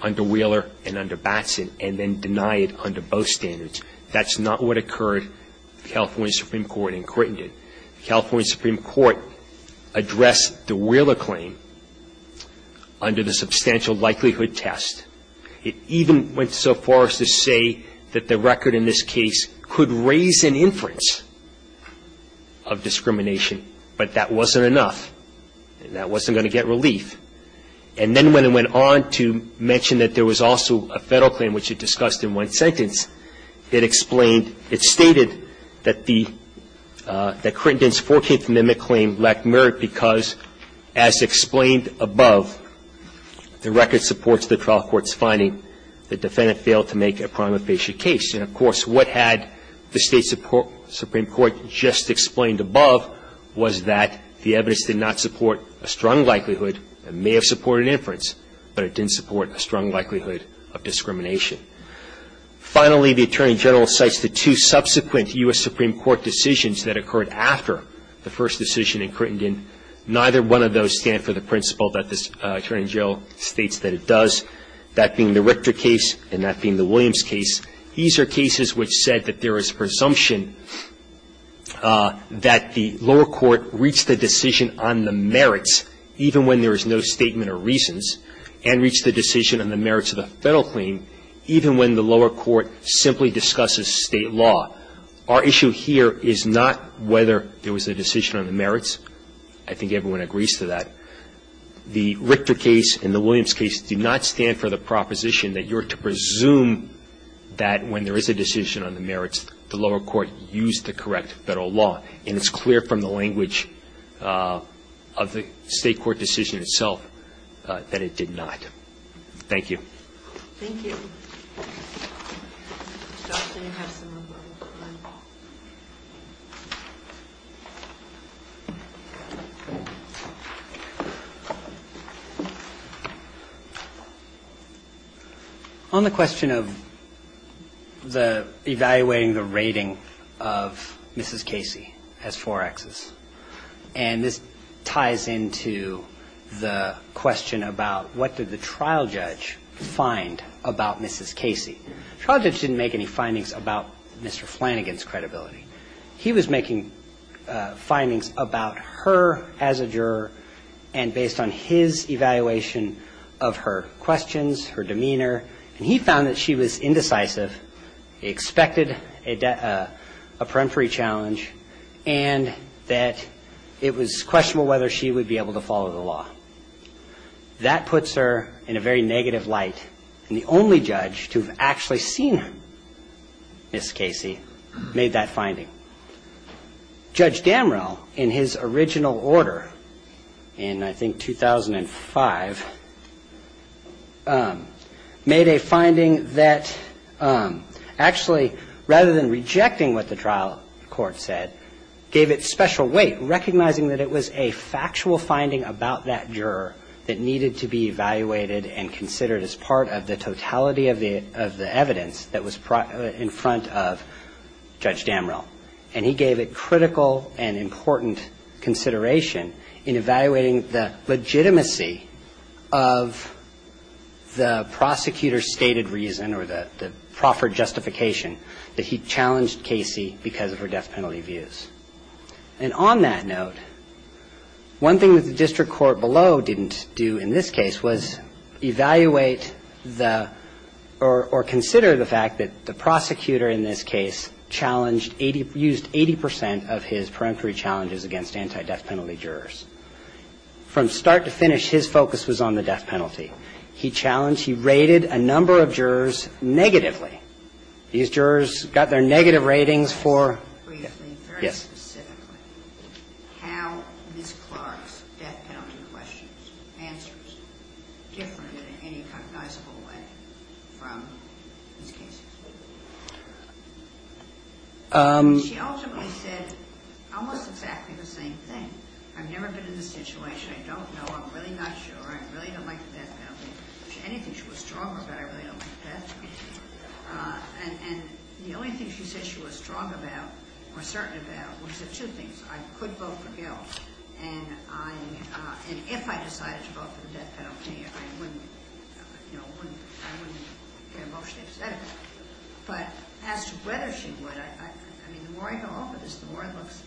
under Wheeler and under Batson and then deny it under both standards. That's not what occurred in the California Supreme Court in Crinton. The California Supreme Court addressed the Wheeler claim under the substantial likelihood test. It even went so far as to say that the record in this case could raise an inference of discrimination, but that wasn't enough and that wasn't going to get relief. And then when it went on to mention that there was also a Federal claim, which it explained, it stated that the, that Crinton's Fourteenth Amendment claim lacked merit because, as explained above, the record supports the trial court's finding the defendant failed to make a prong efficient case. And, of course, what had the State Supreme Court just explained above was that the evidence did not support a strong likelihood. It may have supported inference, but it didn't support a strong likelihood of discrimination. Finally, the Attorney General cites the two subsequent U.S. Supreme Court decisions that occurred after the first decision in Crinton. Neither one of those stand for the principle that this Attorney General states that it does, that being the Richter case and that being the Williams case. These are cases which said that there is presumption that the lower court reached the decision on the merits, even when there is no statement or reasons, and reached the decision on the merits of the Federal claim, even when the lower court simply discusses State law. Our issue here is not whether there was a decision on the merits. I think everyone agrees to that. The Richter case and the Williams case do not stand for the proposition that you're to presume that when there is a decision on the merits, the lower court used the correct Federal law. And it's clear from the language of the State court decision itself that it did not. Thank you. Thank you. Mr. Austin, you have some more time. On the question of the evaluating the rating of Mrs. Casey as 4Xs, and this ties into the question about what did the trial judge find about Mrs. Casey. The trial judge didn't make any findings about Mr. Flanagan's credibility. He was making findings about her as a juror and based on his evaluation of her questions, her demeanor, and he found that she was indecisive, expected a peremptory challenge, and that it was questionable whether she would be able to follow the law. That puts her in a very negative light. And the only judge to have actually seen Mrs. Casey made that finding. Judge Damrell, in his original order in, I think, 2005, made a finding that actually, rather than rejecting what the trial court said, gave it special weight, recognizing that it was a factual finding about that juror that needed to be evaluated and considered as part of the totality of the evidence that was in front of Judge Damrell. And he gave it critical and important consideration in evaluating the legitimacy of the prosecutor's stated reason or the proffered justification that he challenged Casey because of her death penalty views. And on that note, one thing that the district court below didn't do in this case was evaluate the, or consider the fact that the prosecutor in this case used 80 percent of his peremptory challenges against anti-death penalty jurors. From start to finish, his focus was on the death penalty. He challenged, he rated a number of jurors negatively. These jurors got their negative ratings for, yes. How Ms. Clark's death penalty questions answers differed in any recognizable way from these cases. She ultimately said almost exactly the same thing. I've never been in this situation. I don't know. I'm really not sure. I really don't like the death penalty. Anything she was strong about, I really don't like the death penalty. And the only thing she said she was strong about or certain about was the two things. I could vote for Gil. And if I decided to vote for the death penalty, I wouldn't get emotionally upset about it. But as to whether she would, I mean, the more I go over this, the more it looks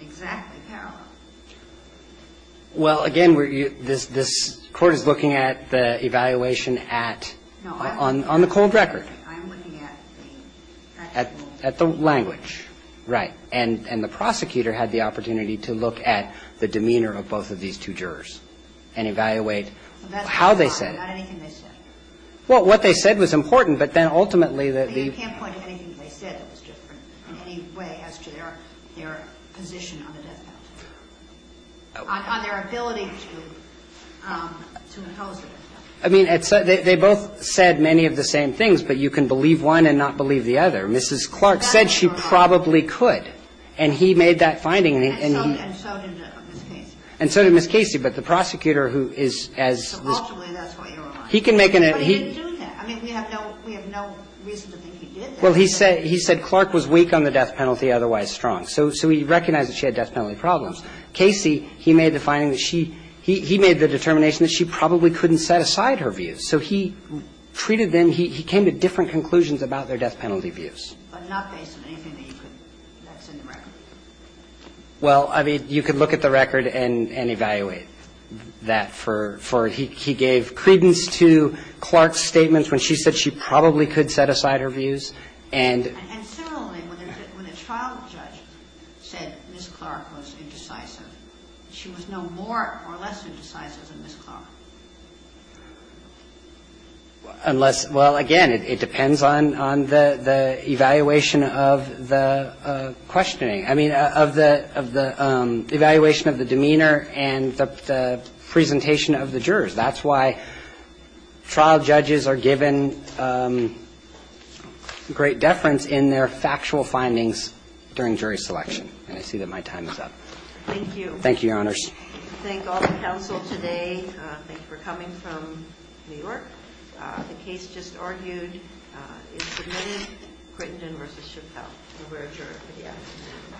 exactly like the death penalty. So I'm looking at the two jurors. And I'm looking at the two jurors. And I'm looking at the two jurors. And I'm looking at the two jurors. And I'm looking at the two jurors. And I'm looking at the two jurors. Just have a look at this. I mean, they both said many of the same things, but you can believe one and not believe the other. Mrs. Clark said she probably could. And he made that finding. And so did Ms. Casey. But the prosecutor who is as he can make an Well, he said Clark was weak on the death penalty, otherwise strong. So he recognized that she had death penalty problems. Casey, he made the finding that she he made the determination that she probably couldn't set aside her views. So he treated them, he came to different conclusions about their death penalty views. But not based on anything that's in the record. Well, I mean, you could look at the record and evaluate that. He gave credence to Clark's statements when she said she probably could set aside her views. And similarly, when the trial judge said Ms. Clark was indecisive, she was no more or less indecisive than Ms. Clark. Unless, well, again, it depends on the evaluation of the questioning. I mean, of the evaluation of the demeanor and the presentation of the jurors. That's why trial judges are given great deference in their factual findings during jury selection. And I see that my time is up. Thank you. Thank you, Your Honors. Thank all the counsel today. Thank you for coming from New York. The case just argued is submitted. Crittenden v. Chappell, the rare juror.